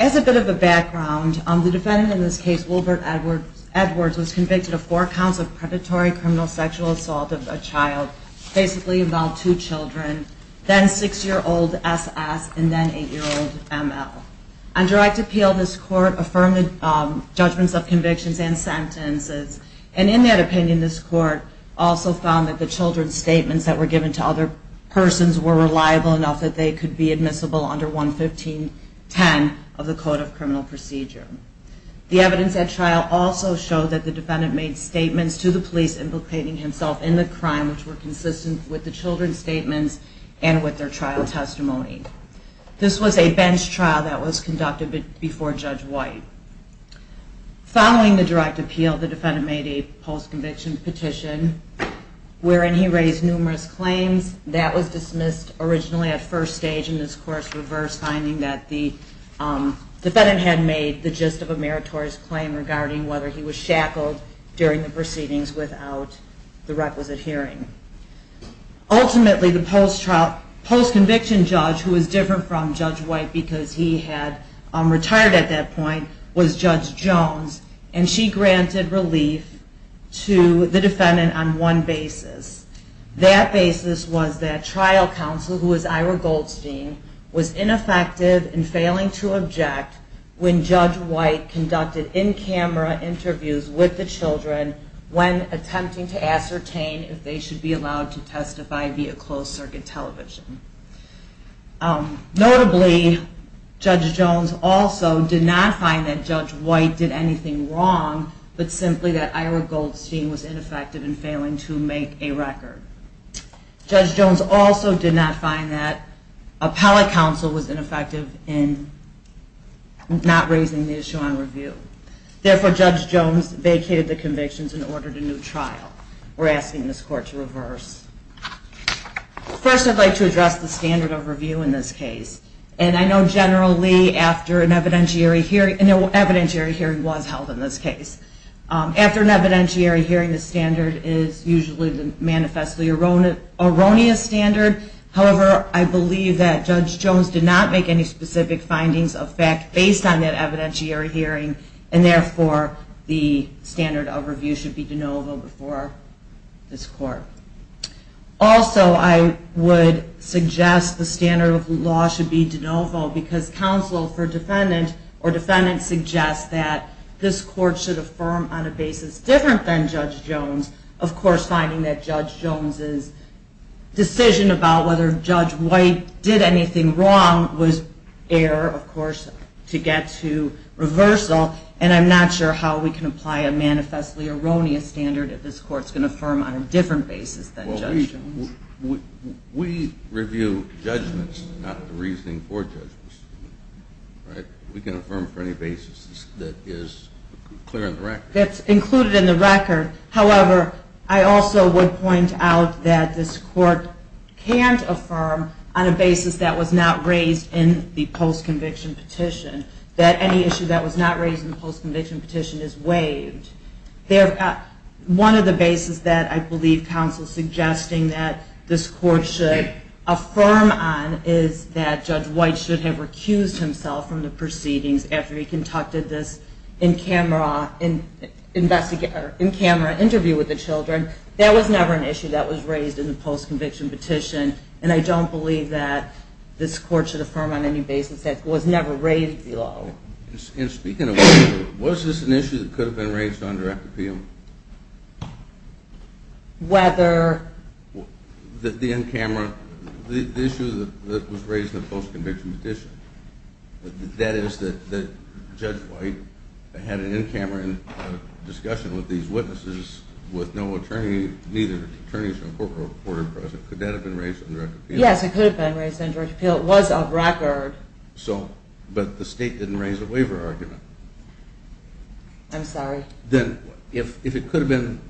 as a bit of a background, the defendant in this case, Wilbert Edwards, was convicted of four counts of predatory criminal sexual assault of a child, basically involving two children, then six-year-old S.S. and then eight-year-old M.L. On direct appeal, this court affirmed the judgments of convictions and sentences, and in that opinion, this court also found that the children's statements that were given to other persons were reliable enough that they could be admissible under 11510 of the Code of Criminal Procedure. The evidence at trial also showed that the defendant made statements to the police implicating himself in the crime which were consistent with the children's statements and with their trial testimony. This was a bench trial that was conducted before Judge White. Following the direct appeal, the defendant made a post-conviction petition wherein he raised numerous claims. That was dismissed originally at first stage, and this court reversed, finding that the plaintiff's claim was just of a meritorious claim regarding whether he was shackled during the proceedings without the requisite hearing. Ultimately, the post-conviction judge, who was different from Judge White because he had retired at that point, was Judge Jones, and she granted relief to the defendant on one basis. That basis was that trial counsel, who was Ira Goldstein, was ineffective in failing to object when Judge White conducted in-camera interviews with the children when attempting to ascertain if they should be allowed to testify via closed-circuit television. Notably, Judge Jones also did not find that Judge White did anything wrong, but simply that Ira Goldstein was ineffective in failing to make a record. Judge Jones also did not find that appellate counsel was ineffective in not raising the issue on review. Therefore, Judge Jones vacated the convictions and ordered a new trial. We're asking this court to reverse. First, I'd like to address the standard of review in this case, and I know generally after an evidentiary hearing was held in this case. After an evidentiary hearing, the standard is usually the manifestly erroneous standard. However, I believe that Judge Jones did not make any specific findings of fact based on that evidentiary hearing, and therefore the standard of review should be de novo before this court. Also, I would suggest the standard of law should be de novo because counsel for defendant or defendant suggests that this court should affirm on a basis different than Judge Jones. Of course, finding that Judge Jones' decision about whether Judge White did anything wrong was error, of course, to get to reversal, and I'm not sure how we can apply a manifestly erroneous standard if this court's going to affirm on a different basis than Judge Jones. We review judgments, not the reasoning for judgments. We can affirm for any basis that is clear in the record. That's included in the record. However, I also would point out that this court can't affirm on a basis that was not raised in the post-conviction petition, that any issue that was not raised in the post-conviction petition is waived. One of the basis that I believe counsel is suggesting that this court should affirm on is that Judge White should have recused himself from the proceedings after he conducted this in-camera interview with the children. That was never an issue that was raised in the post-conviction petition, and I don't believe that this court should affirm on any basis that it was never raised below. And speaking of, was this an issue that could have been raised on direct appeal? Whether... The in-camera, the issue that was raised in the post-conviction petition, that is that Judge White had an in-camera discussion with these witnesses with no attorney, neither attorneys nor court reported present. Could that have been raised on direct appeal? Yes, it could have been raised on direct appeal. It was a record. But the state didn't raise a waiver argument. I'm sorry? Then if it could have been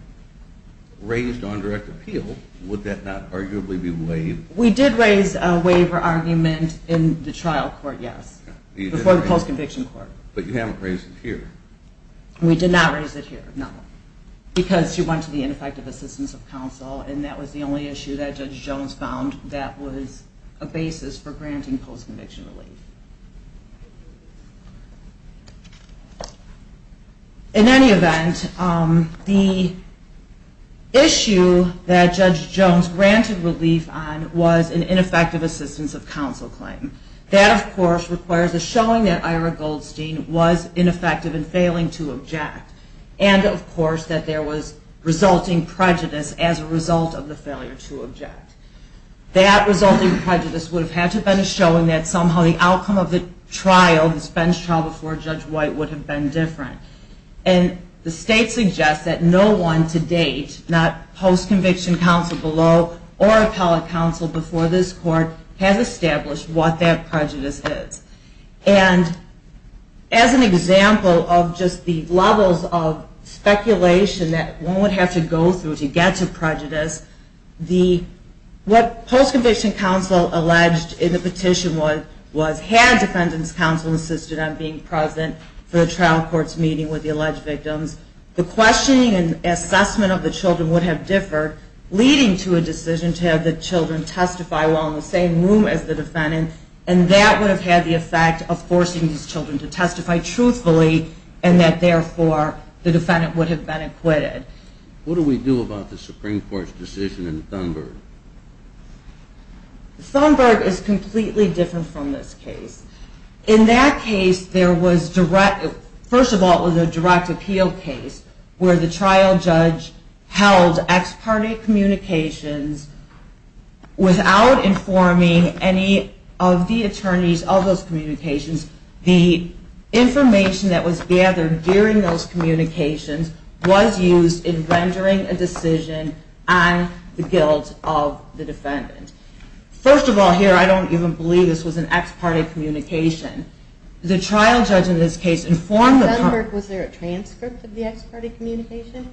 raised on direct appeal, would that not arguably be waived? We did raise a waiver argument in the trial court, yes. Before the post-conviction court. But you haven't raised it here. We did not raise it here, no. Because she went to the ineffective assistance of counsel, and that was the only issue that was raised in post-conviction relief. In any event, the issue that Judge Jones granted relief on was an ineffective assistance of counsel claim. That, of course, requires a showing that Ira Goldstein was ineffective in failing to object. And, of course, that there was resulting prejudice as a result of the failure to object. That resulting prejudice would have had to have been a showing that somehow the outcome of the trial, this bench trial before Judge White, would have been different. And the state suggests that no one to date, not post-conviction counsel below or appellate counsel before this court, has established what that prejudice is. And as an example of just the levels of speculation that one would have to go through to get to What post-conviction counsel alleged in the petition was, had defendant's counsel insisted on being present for the trial court's meeting with the alleged victims, the questioning and assessment of the children would have differed, leading to a decision to have the children testify while in the same room as the defendant. And that would have had the effect of forcing these children to testify truthfully, and that, therefore, the defendant would have been acquitted. What do we do about the Supreme Court's decision in Thunberg? Thunberg is completely different from this case. In that case, there was direct, first of all, it was a direct appeal case where the trial judge held ex parte communications without informing any of the attorneys of those communications. The information that was gathered during those communications was used in rendering a decision on the guilt of the defendant. First of all, here, I don't even believe this was an ex parte communication. The trial judge in this case informed... In Thunberg, was there a transcript of the ex parte communication?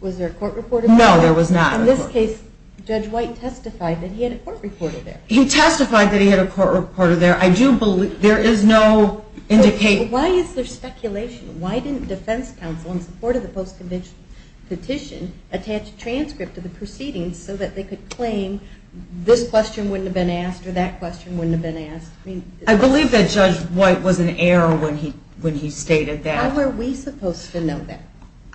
Was there a court report? No, there was not. In this case, Judge White testified that he had a court reporter there. He testified that he had a court reporter there. I do believe... There is no indication... Why is there speculation? Why didn't defense counsel, in support of the post-conviction petition, attach a transcript of the proceedings so that they could claim this question wouldn't have been asked or that question wouldn't have been asked? I believe that Judge White was an error when he stated that. How were we supposed to know that?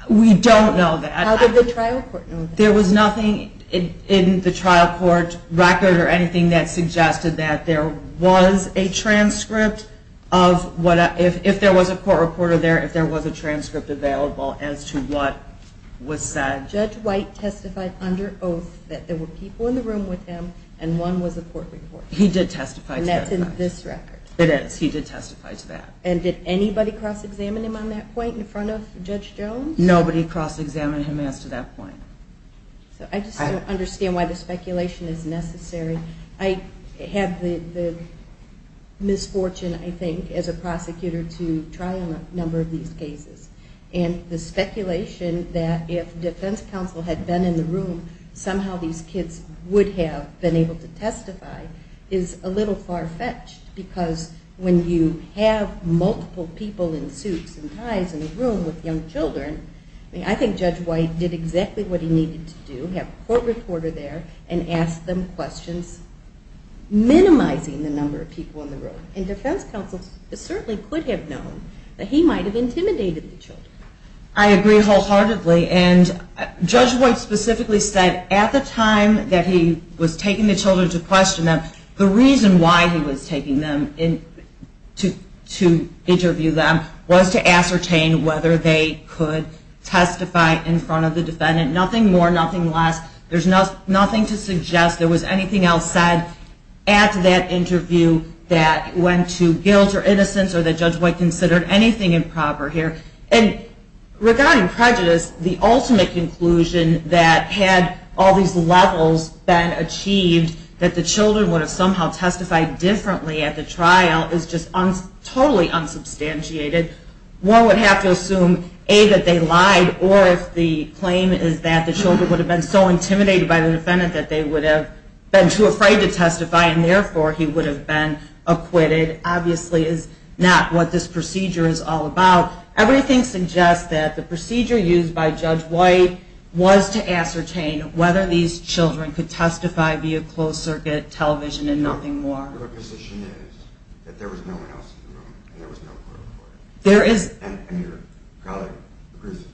We don't know that. How did the trial court know that? There was nothing in the trial court record or anything that suggested that there was a transcript of what... If there was a court reporter there, if there was a transcript available as to what was said. Judge White testified under oath that there were people in the room with him and one was a court reporter. He did testify to that. And that's in this record. It is. He did testify to that. And did anybody cross-examine him on that point in front of Judge Jones? Nobody cross-examined him as to that point. I just don't understand why the speculation is necessary. I had the misfortune, I think, as a prosecutor to try a number of these cases. And the speculation that if defense counsel had been in the room, somehow these kids would have been able to testify is a little far-fetched because when you have multiple people in suits and ties in a room with young children, I think Judge White did exactly what he needed to do. Have a court reporter there and ask them questions, minimizing the number of people in the room. And defense counsel certainly could have known that he might have intimidated the children. I agree wholeheartedly. And Judge White specifically said at the time that he was taking the children to question them, the reason why he was taking them to interview them was to ascertain whether they could testify in front of the defendant. Nothing more, nothing less. There's nothing to suggest there was anything else said at that interview that went to guilt or innocence or that Judge White considered anything improper here. And regarding prejudice, the ultimate conclusion that had all these levels been achieved that the children would have somehow testified differently at the trial is just totally unsubstantiated. One would have to assume, A, that they lied, or if the claim is that the children would have been so intimidated by the defendant that they would have been too afraid to testify and therefore he would have been acquitted, obviously is not what this procedure is all about. Everything suggests that the procedure used by Judge White was to ascertain whether these children could testify via closed circuit television and nothing more. The position is that there was no one else in the room and there was no court reporter. And your colleague agrees with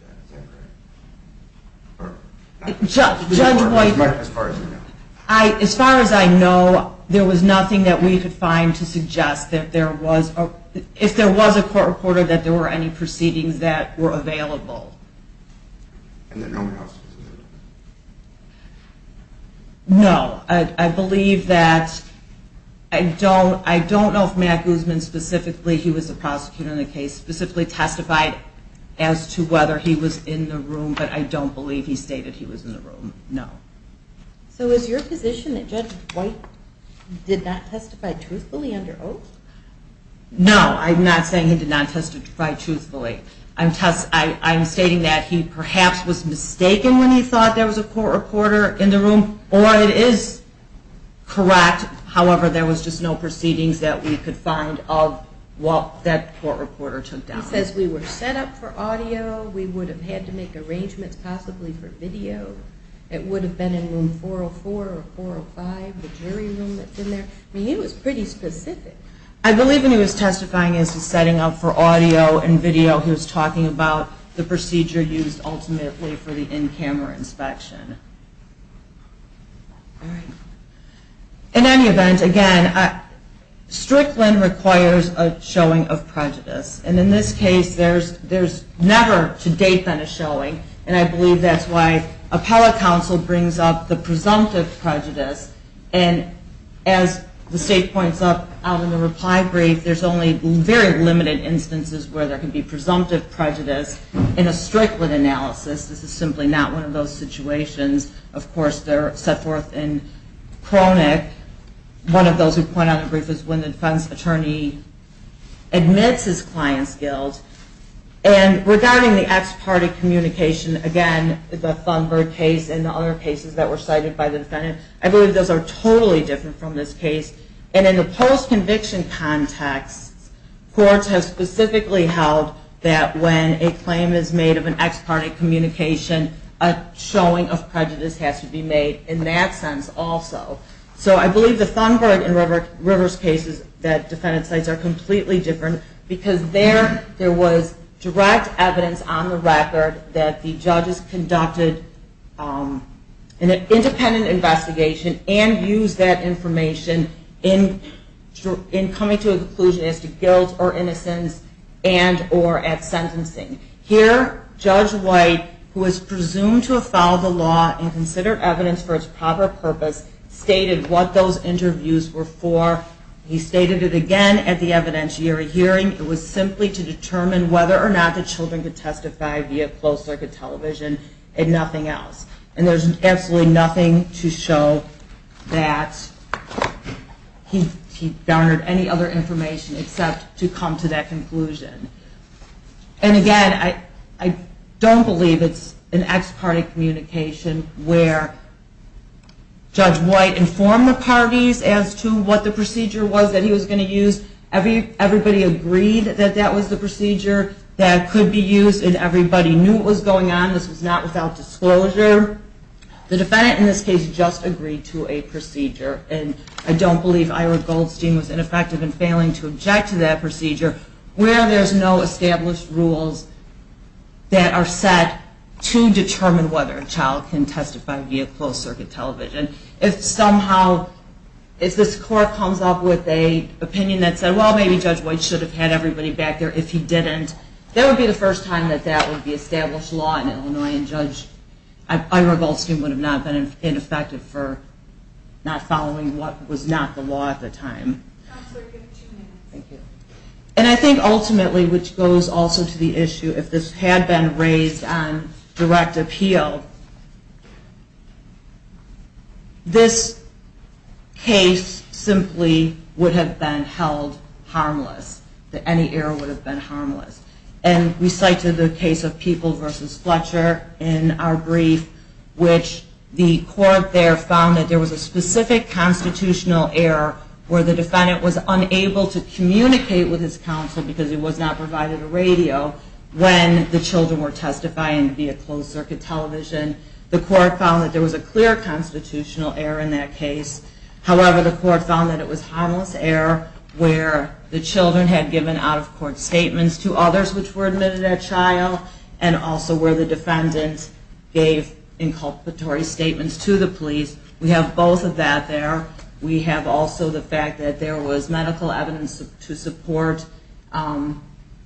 that, is that correct? Judge White, as far as I know, there was nothing that we could find to suggest that there was, if there was a court reporter, that there were any proceedings that were available. And that no one else was in the room? No, I believe that, I don't know if Matt Guzman specifically, he was the prosecutor in the case, specifically testified as to whether he was in the room, but I don't believe he stated he was in the room, no. So is your position that Judge White did not testify truthfully under oath? No, I'm not saying he did not testify truthfully. I'm stating that he perhaps was mistaken when he thought there was a court reporter in the room, or it is correct. However, there was just no proceedings that we could find of what that court reporter took down. He says we were set up for audio, we would have had to make arrangements possibly for video. It would have been in room 404 or 405, the jury room that's in there. He was pretty specific. I believe when he was testifying, he was setting up for audio and video, he was talking about the procedure used ultimately for the in-camera inspection. In any event, again, Strickland requires a showing of prejudice. And in this case, there's never to date been a showing, and I believe that's why appellate counsel brings up the presumptive prejudice. And as the state points out in the reply brief, there's only very limited instances where there can be presumptive prejudice. In a Strickland analysis, this is simply not one of those situations. Of course, they're set forth in chronic. One of those who point out in the brief is when the defense attorney admits his client's guilt. And regarding the ex parte communication, again, the Thunberg case and the other cases that were cited by the defendant, I believe those are totally different from this case. And in the post-conviction context, courts have specifically held that when a claim is made of an ex parte communication, a showing of prejudice has to be made in that sense also. So I believe the Thunberg and Rivers cases that defendants cite are completely different because there was direct evidence on the record that the judges conducted an independent investigation and used that information in coming to a conclusion as to guilt or innocence and or at sentencing. Here, Judge White, who is presumed to have followed the law and considered evidence for its proper purpose, stated what those interviews were for. He stated it again at the evidentiary hearing. It was simply to determine whether or not the children could testify via closed-circuit television and nothing else. And there's absolutely nothing to show that he garnered any other information except to come to that conclusion. And again, I don't believe it's an ex parte communication where Judge White informed the parties as to what the procedure was that he was going to use. Everybody agreed that that was the procedure that could be used and everybody knew what was going on. This was not without disclosure. The defendant in this case just agreed to a procedure and I don't believe Ira Goldstein was ineffective in failing to object to that procedure where there's no established rules that are set to determine whether a child can testify via closed-circuit television. If somehow, if this court comes up with an opinion that said, well, maybe Judge White should have had everybody back there if he didn't, that would be the first time that that would be established law in Illinois and Judge Ira Goldstein would have not been ineffective for not following what was not the law at the time. Thank you. And I think ultimately, which goes also to the issue, if this had been raised on direct appeal, this case simply would have been held harmless, that any error would have been harmless. And we cite to the case of People v. Fletcher in our brief, which the court there found that there was a specific constitutional error where the defendant was unable to communicate with his counsel because he was not provided a radio when the children were testifying via closed-circuit television. The court found that there was a clear constitutional error in that case. However, the court found that it was harmless error where the children had given out-of-court statements to others which were admitted at trial and also where the defendant gave inculpatory statements to the police. We have both of that there. We have also the fact that there was medical evidence to support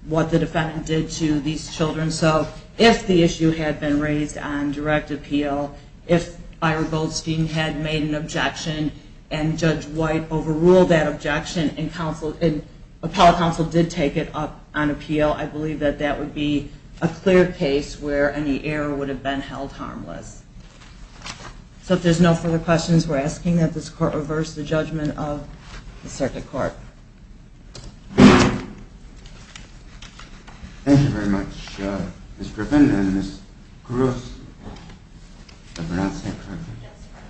what the defendant did to these children. So if the issue had been raised on direct appeal, if Ira Goldstein had made an objection and Judge White overruled that objection and appellate counsel did take it up on appeal, I believe that that would be a clear case where any error would have been held harmless. So if there's no further questions, we're asking that this court reverse the judgment of the circuit court. Thank you very much, Ms. Griffin and Ms. Koros. Did I pronounce that correctly? Yes, sir.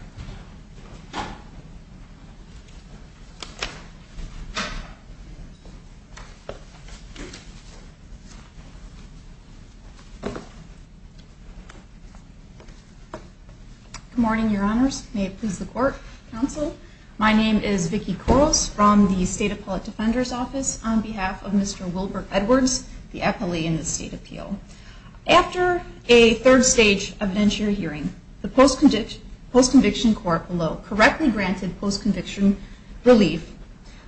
Good morning, Your Honors. May it please the court, counsel. My name is Vicki Koros from the State Appellate Defender's Office on behalf of Mr. Wilbert Edwards, the appellee in the state appeal. After a third-stage evidentiary hearing, the post-conviction court below correctly granted post-conviction relief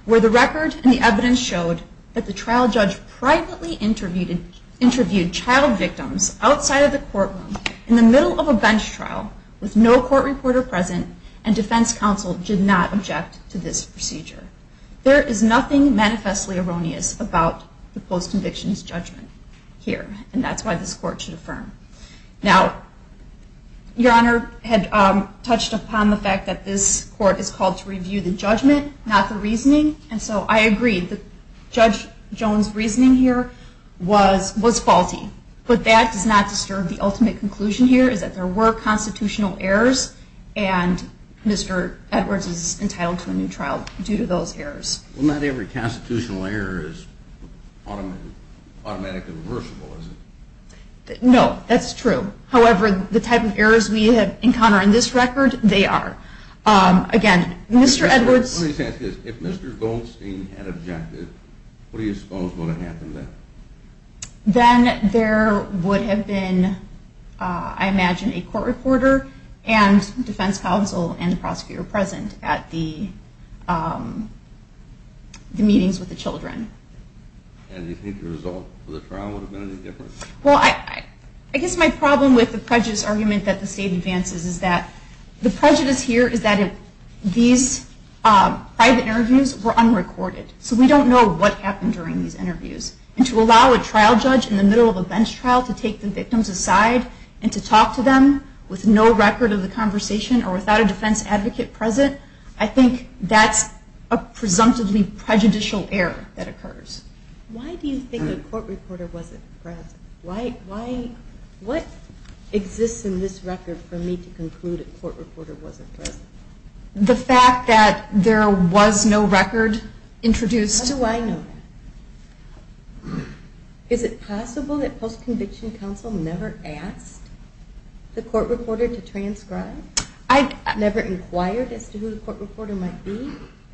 where the record and the evidence showed that the trial judge privately interviewed child victims outside of the courtroom in the middle of a bench trial with no court reporter present and defense counsel did not object to this procedure. There is nothing manifestly erroneous about the post-conviction's judgment here, and that's why this court should affirm. Now, Your Honor had touched upon the fact that this court is called to review the judgment, not the reasoning, and so I agree that Judge Jones' reasoning here was faulty, but that does not disturb the ultimate conclusion here, is that there were constitutional errors, and Mr. Edwards is entitled to a new trial due to those errors. Well, not every constitutional error is automatically reversible, is it? No, that's true. However, the type of errors we have encountered in this record, they are. Again, Mr. Edwards – Let me just ask you this. If Mr. Goldstein had objected, what do you suppose would have happened then? Then there would have been, I imagine, a court reporter and defense counsel and the prosecutor present at the meetings with the children. And do you think the result of the trial would have been any different? Well, I guess my problem with the prejudice argument that the state advances is that the prejudice here is that these private interviews were unrecorded, so we don't know what happened during these interviews. And to allow a trial judge in the middle of a bench trial to take the victims aside and to talk to them with no record of the conversation or without a defense advocate present, I think that's a presumptively prejudicial error that occurs. Why do you think a court reporter wasn't present? What exists in this record for me to conclude a court reporter wasn't present? The fact that there was no record introduced. How do I know that? Is it possible that post-conviction counsel never asked the court reporter to transcribe? Never inquired as to who the court reporter might be?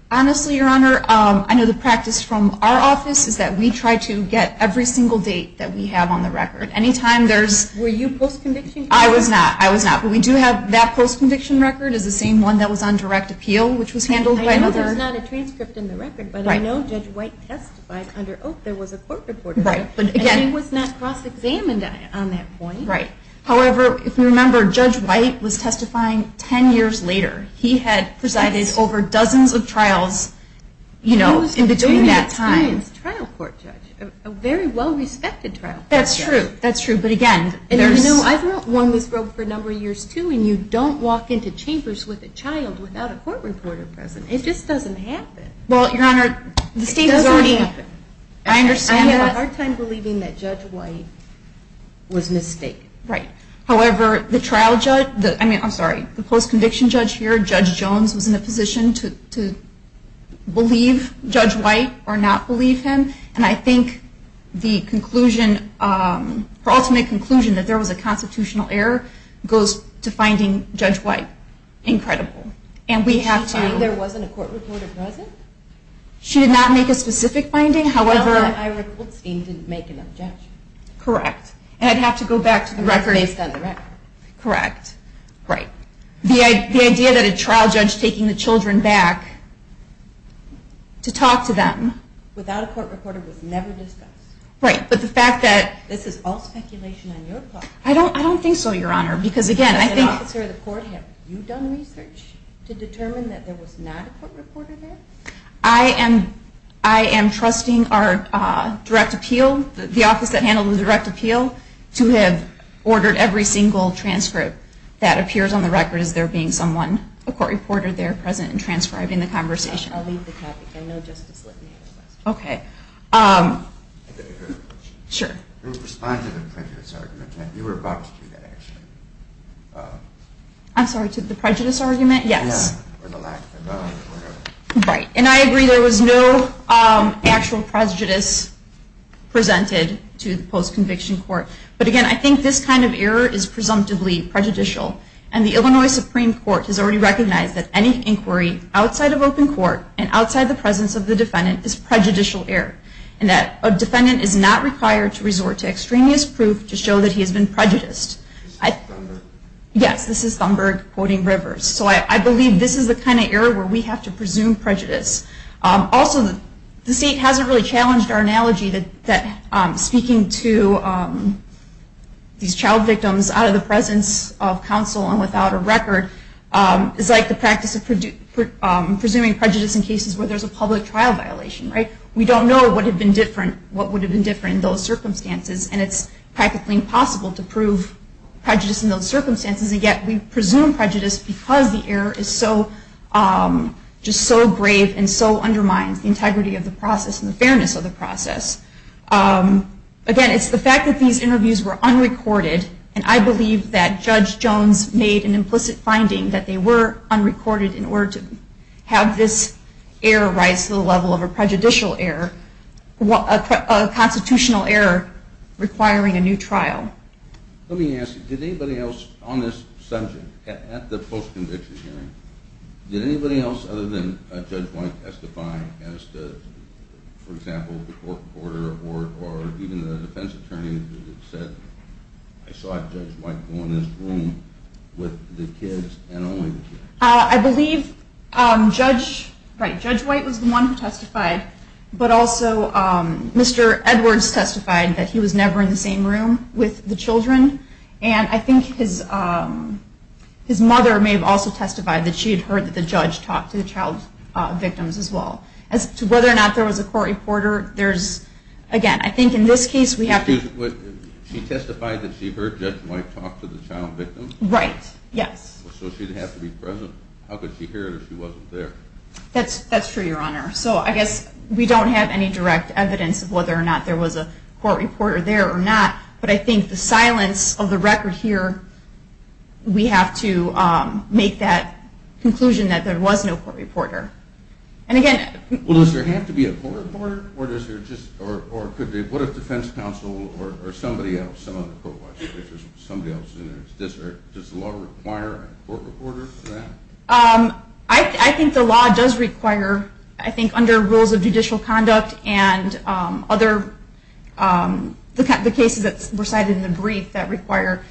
Honestly, Your Honor, I know the practice from our office is that we try to get every single date that we have on the record. Were you post-conviction counsel? I was not. But we do have that post-conviction record as the same one that was on direct appeal, which was handled by another. I know there's not a transcript in the record, but I know Judge White testified under Oak. There was a court reporter there, and he was not cross-examined on that point. Right. However, if you remember, Judge White was testifying 10 years later. He had presided over dozens of trials in between that time. He was a very experienced trial court judge, a very well-respected trial court judge. That's true. That's true. But, again, there's... You know, I've known one who's broke for a number of years, too, and you don't walk into chambers with a child without a court reporter present. It just doesn't happen. Well, Your Honor, the state has already... It doesn't happen. I understand that. I had a hard time believing that Judge White was mistaken. Right. However, the trial judge, I mean, I'm sorry, the post-conviction judge here, Judge Jones, was in a position to believe Judge White or not believe him, and I think the conclusion, her ultimate conclusion, that there was a constitutional error goes to finding Judge White incredible. And we have to... Did she find there wasn't a court reporter present? She did not make a specific finding, however... It wasn't that Ira Goldstein didn't make an objection. Correct. And I'd have to go back to the record... It was based on the record. Correct. Right. The idea that a trial judge taking the children back to talk to them... Right, but the fact that... This is all speculation on your part. I don't think so, Your Honor, because, again, I think... As an officer of the court, have you done research to determine that there was not a court reporter there? I am trusting our direct appeal, the office that handled the direct appeal, to have ordered every single transcript that appears on the record as there being someone, a court reporter there present and transcribing the conversation. I know Justice Litton has a question. Okay. Sure. Respond to the prejudice argument. You were about to do that, actually. I'm sorry, to the prejudice argument? Yes. Or the lack of evidence, whatever. Right. And I agree there was no actual prejudice presented to the post-conviction court. But, again, I think this kind of error is presumptively prejudicial. And the Illinois Supreme Court has already recognized that any inquiry outside of open court and outside the presence of the defendant is prejudicial error. And that a defendant is not required to resort to extraneous proof to show that he has been prejudiced. Yes, this is Thunberg quoting Rivers. So I believe this is the kind of error where we have to presume prejudice. Also, the State hasn't really challenged our analogy that speaking to these child victims out of the presence of counsel and without a record is like the practice of presuming prejudice in cases where there's a public trial violation. Right? We don't know what would have been different in those circumstances. And it's practically impossible to prove prejudice in those circumstances. And yet, we presume prejudice because the error is just so brave and so undermines the integrity of the process and the fairness of the process. Again, it's the fact that these interviews were unrecorded. And I believe that Judge Jones made an implicit finding that they were unrecorded in order to have this error rise to the level of a prejudicial error, a constitutional error requiring a new trial. Let me ask you, did anybody else on this subject at the post-conviction hearing, did anybody else other than Judge White testify as to, for example, the court reporter or even the defense attorney who said, I saw Judge White go in this room with the kids and only the kids? I believe Judge White was the one who testified. But also, Mr. Edwards testified that he was never in the same room with the children. And I think his mother may have also testified that she had heard that the judge talked to the child victims as well. As to whether or not there was a court reporter, there's, again, I think in this case we have to... Excuse me, she testified that she heard Judge White talk to the child victims? Right, yes. So she didn't have to be present? How could she hear it if she wasn't there? That's true, Your Honor. So I guess we don't have any direct evidence of whether or not there was a court reporter there or not. But I think the silence of the record here, we have to make that conclusion that there was no court reporter. And again... Well, does there have to be a court reporter? Or does there just... Or what if defense counsel or somebody else, somebody else in the district, does the law require a court reporter for that? I think the law does require, I think under rules of judicial conduct and other, the cases that were cited in the brief that require,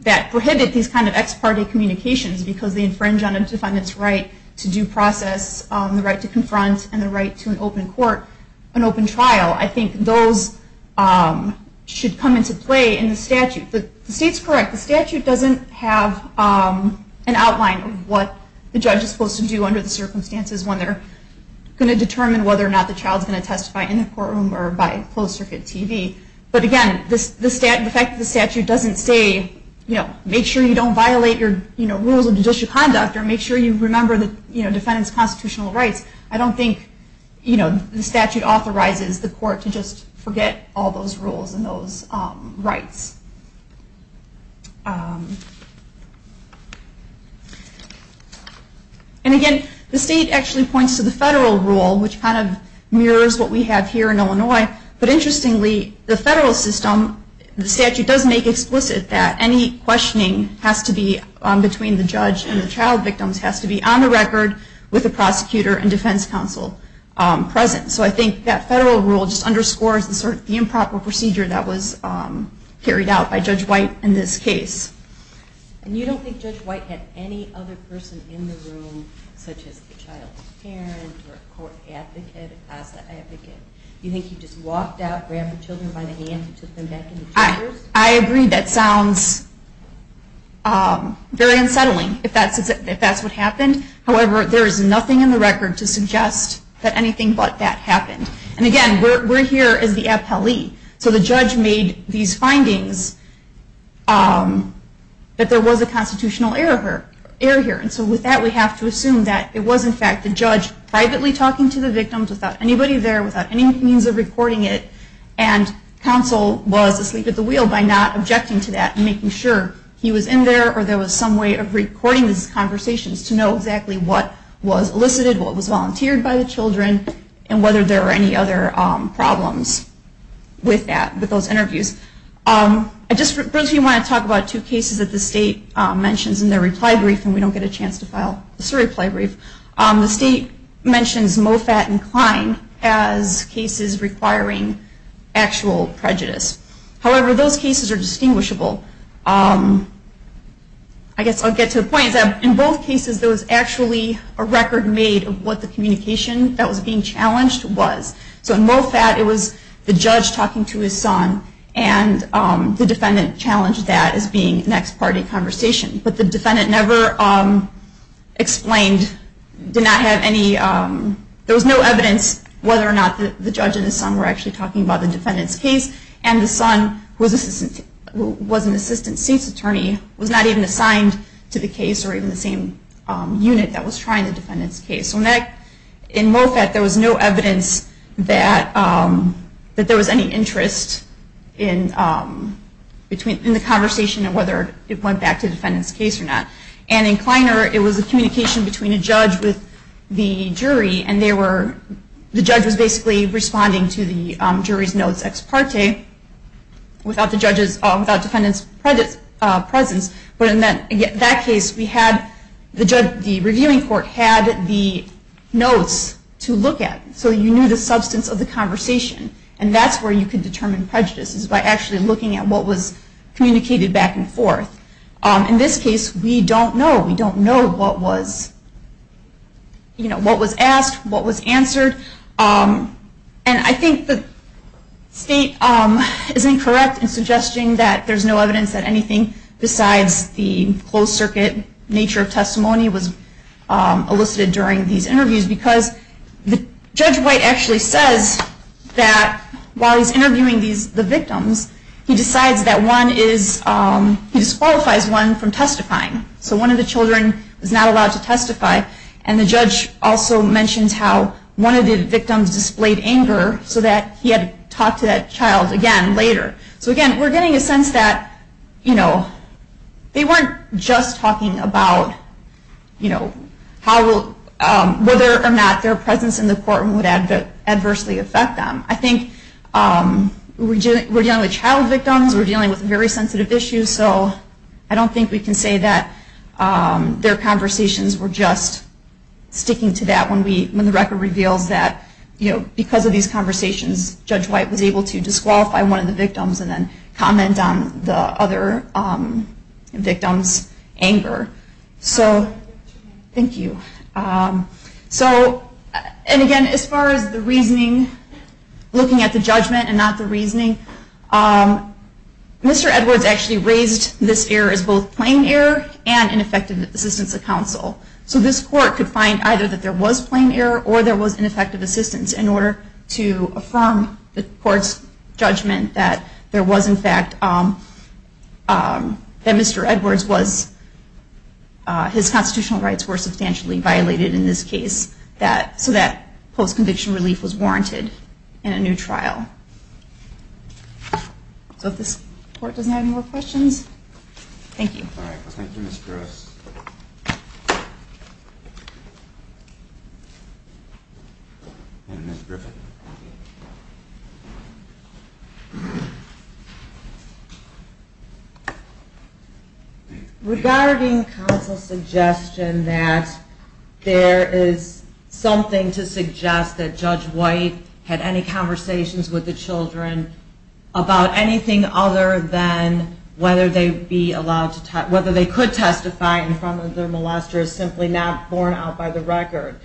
that prohibit these kind of ex parte communications because they infringe on a defendant's right to due process, the right to confront, and the right to an open court, an open trial. I think those should come into play in the statute. The state's correct. The statute doesn't have an outline of what the judge is supposed to do under the circumstances when they're going to determine whether or not the child is going to testify in the courtroom or by closed circuit TV. But again, the fact that the statute doesn't say, make sure you don't violate your rules of judicial conduct or make sure you remember the defendant's constitutional rights, I don't think the statute authorizes the court to just forget all those rules and those rights. And again, the state actually points to the federal rule, which kind of mirrors what we have here in Illinois. But interestingly, the federal system, the statute does make explicit that any questioning has to be between the judge and the child victims has to be on the record with the prosecutor and defense counsel present. So I think that federal rule just underscores the improper procedure that was carried out by Judge White in this case. And you don't think Judge White had any other person in the room, such as the child's parent or a court advocate, a CASA advocate? Do you think he just walked out, grabbed the children by the hand, and took them back into the chambers? I agree that sounds very unsettling if that's what happened. However, there is nothing in the record to suggest that anything but that happened. And again, we're here as the appellee. So the judge made these findings, but there was a constitutional error here. And so with that, we have to assume that it was, in fact, the judge privately talking to the victims without anybody there, without any means of recording it. And counsel was asleep at the wheel by not objecting to that and making sure he was in there or there was some way of recording these conversations to know exactly what was elicited, what was volunteered by the children, and whether there were any other problems with those interviews. I just briefly want to talk about two cases that the state mentions in their reply brief, and we don't get a chance to file this reply brief. The state mentions Moffat and Klein as cases requiring actual prejudice. However, those cases are distinguishable. I guess I'll get to the point is that in both cases, there was actually a record made of what the communication that was being challenged was. So in Moffat, it was the judge talking to his son, and the defendant challenged that as being next party conversation. But the defendant never explained, did not have any, there was no evidence whether or not the judge and his son were actually talking about the defendant's case. And the son, who was an assistant cease attorney, was not even assigned to the case or even the same unit that was trying the defendant's case. So in Moffat, there was no evidence that there was any interest in the conversation and whether it went back to the defendant's case or not. And in Kleiner, it was a communication between a judge with the jury, and the judge was basically responding to the jury's notes ex parte, without the defendant's presence. But in that case, the reviewing court had the notes to look at, so you knew the substance of the conversation. And that's where you can determine prejudices, by actually looking at what was communicated back and forth. In this case, we don't know. We don't know what was asked, what was answered. And I think the state is incorrect in suggesting that there's no evidence that anything besides the closed circuit nature of testimony was elicited during these interviews, because Judge White actually says that while he's interviewing the victims, he decides that he disqualifies one from testifying. So one of the children is not allowed to testify, and the judge also mentions how one of the victims displayed anger so that he had to talk to that child again later. So again, we're getting a sense that they weren't just talking about whether or not their presence in the courtroom would adversely affect them. I think we're dealing with child victims, we're dealing with very sensitive issues, so I don't think we can say that their conversations were just sticking to that when the record reveals that because of these conversations, Judge White was able to disqualify one of the victims and then comment on the other victim's anger. So, thank you. So, and again, as far as the reasoning, looking at the judgment and not the reasoning, Mr. Edwards actually raised this error as both plain error and ineffective assistance of counsel. So this court could find either that there was plain error or there was ineffective assistance in order to affirm the court's judgment that there was, in fact, that Mr. Edwards was, his constitutional rights were substantially violated in this case, so that post-conviction relief was warranted in a new trial. So if this court doesn't have any more questions, thank you. All right. Thank you, Ms. Gruss. And Ms. Griffin. Regarding counsel's suggestion that there is something to suggest that Judge White had any conversations with the children about anything other than whether they be allowed to testify, whether they could testify in front of their molesters, simply not borne out by the record,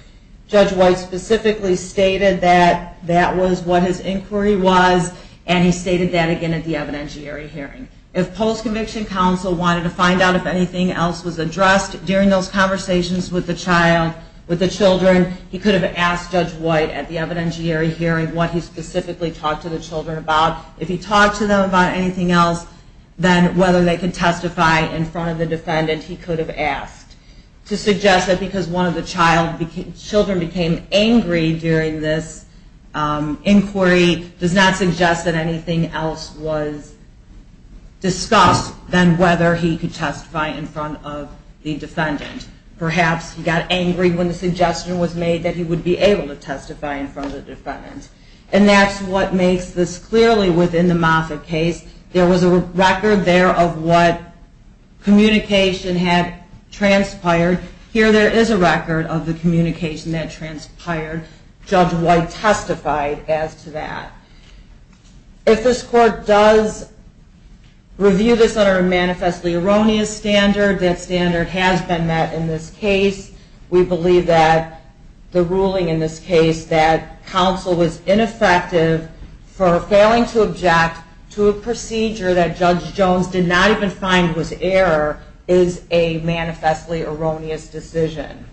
Judge White specifically stated that that was what his inquiry was, and he stated that again at the evidentiary hearing. If post-conviction counsel wanted to find out if anything else was addressed during those conversations with the child, with the children, he could have asked Judge White at the evidentiary hearing what he specifically talked to the children about. If he talked to them about anything else than whether they could testify in front of the defendant, he could have asked. To suggest that because one of the children became angry during this inquiry does not suggest that anything else was discussed than whether he could testify in front of the defendant. Perhaps he got angry when the suggestion was made that he would be able to testify in front of the defendant. And that's what makes this clearly within the Moffitt case. There was a record there of what communication had transpired. Here there is a record of the communication that transpired. Judge White testified as to that. If this Court does review this under a manifestly erroneous standard, that standard has been met in this case. We believe that the ruling in this case that counsel was ineffective for failing to object to a procedure that Judge Jones did not even find was error is a manifestly erroneous decision.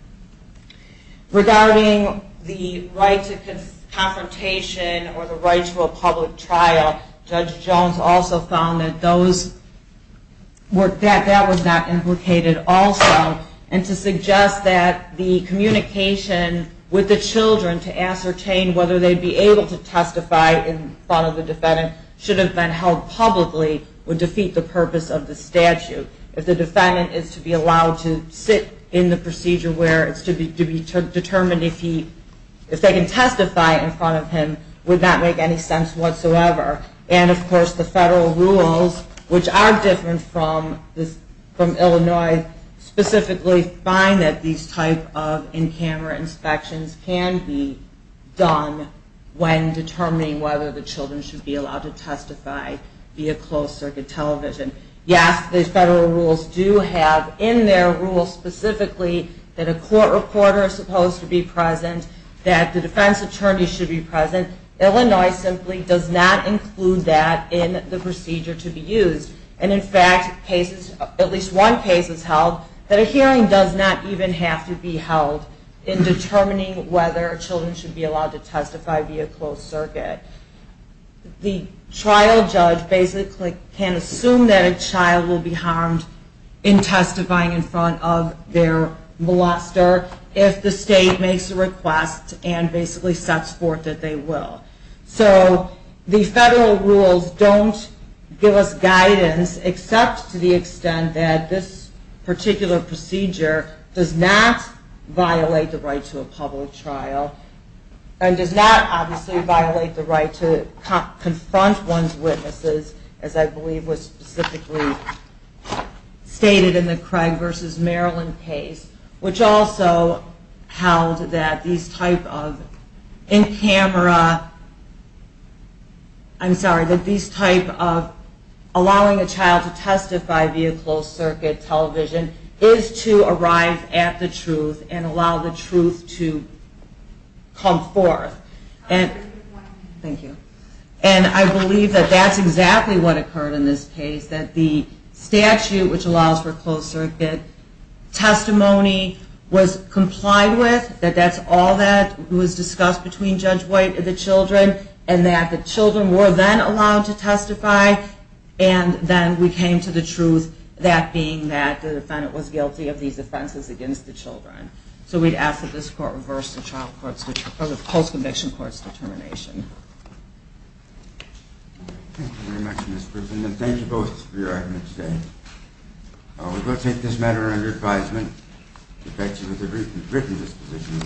Regarding the right to confrontation or the right to a public trial, Judge Jones also found that that was not implicated also. And to suggest that the communication with the children to ascertain whether they would be able to testify in front of the defendant should have been held publicly would defeat the purpose of the statute. If the defendant is to be allowed to sit in the procedure where it's to be determined if they can testify in front of him would not make any sense whatsoever. And of course the federal rules, which are different from Illinois, specifically find that these types of in-camera inspections can be done when determining whether the children should be allowed to testify via closed-circuit television. Yes, the federal rules do have in their rules specifically that a court reporter is supposed to be present, that the defense attorney should be present. Illinois simply does not include that in the procedure to be used. And in fact, at least one case has held that a hearing does not even have to be held in determining whether children should be allowed to testify via closed-circuit. The trial judge basically can assume that a child will be harmed in testifying in front of their molester if the state makes a request and basically sets forth that they will. So the federal rules don't give us guidance except to the extent that this particular procedure does not violate the right to a public trial and does not obviously violate the right to confront one's witnesses, as I believe was specifically stated in the Craig v. Maryland case, which also held that these type of allowing a child to testify via closed-circuit television is to arrive at the truth and allow the truth to come forth. Thank you. And I believe that that's exactly what occurred in this case, that the statute which allows for closed-circuit testimony was complied with, that that's all that was discussed between Judge White and the children, and that the children were then allowed to testify and then we came to the truth, that being that the defendant was guilty of these offenses against the children. So we'd ask that this court reverse the child court's post-conviction court's determination. Thank you very much, Ms. Griffin, and thank you both for your arguments today. We're going to take this matter under advisement. It affects you with a written disposition.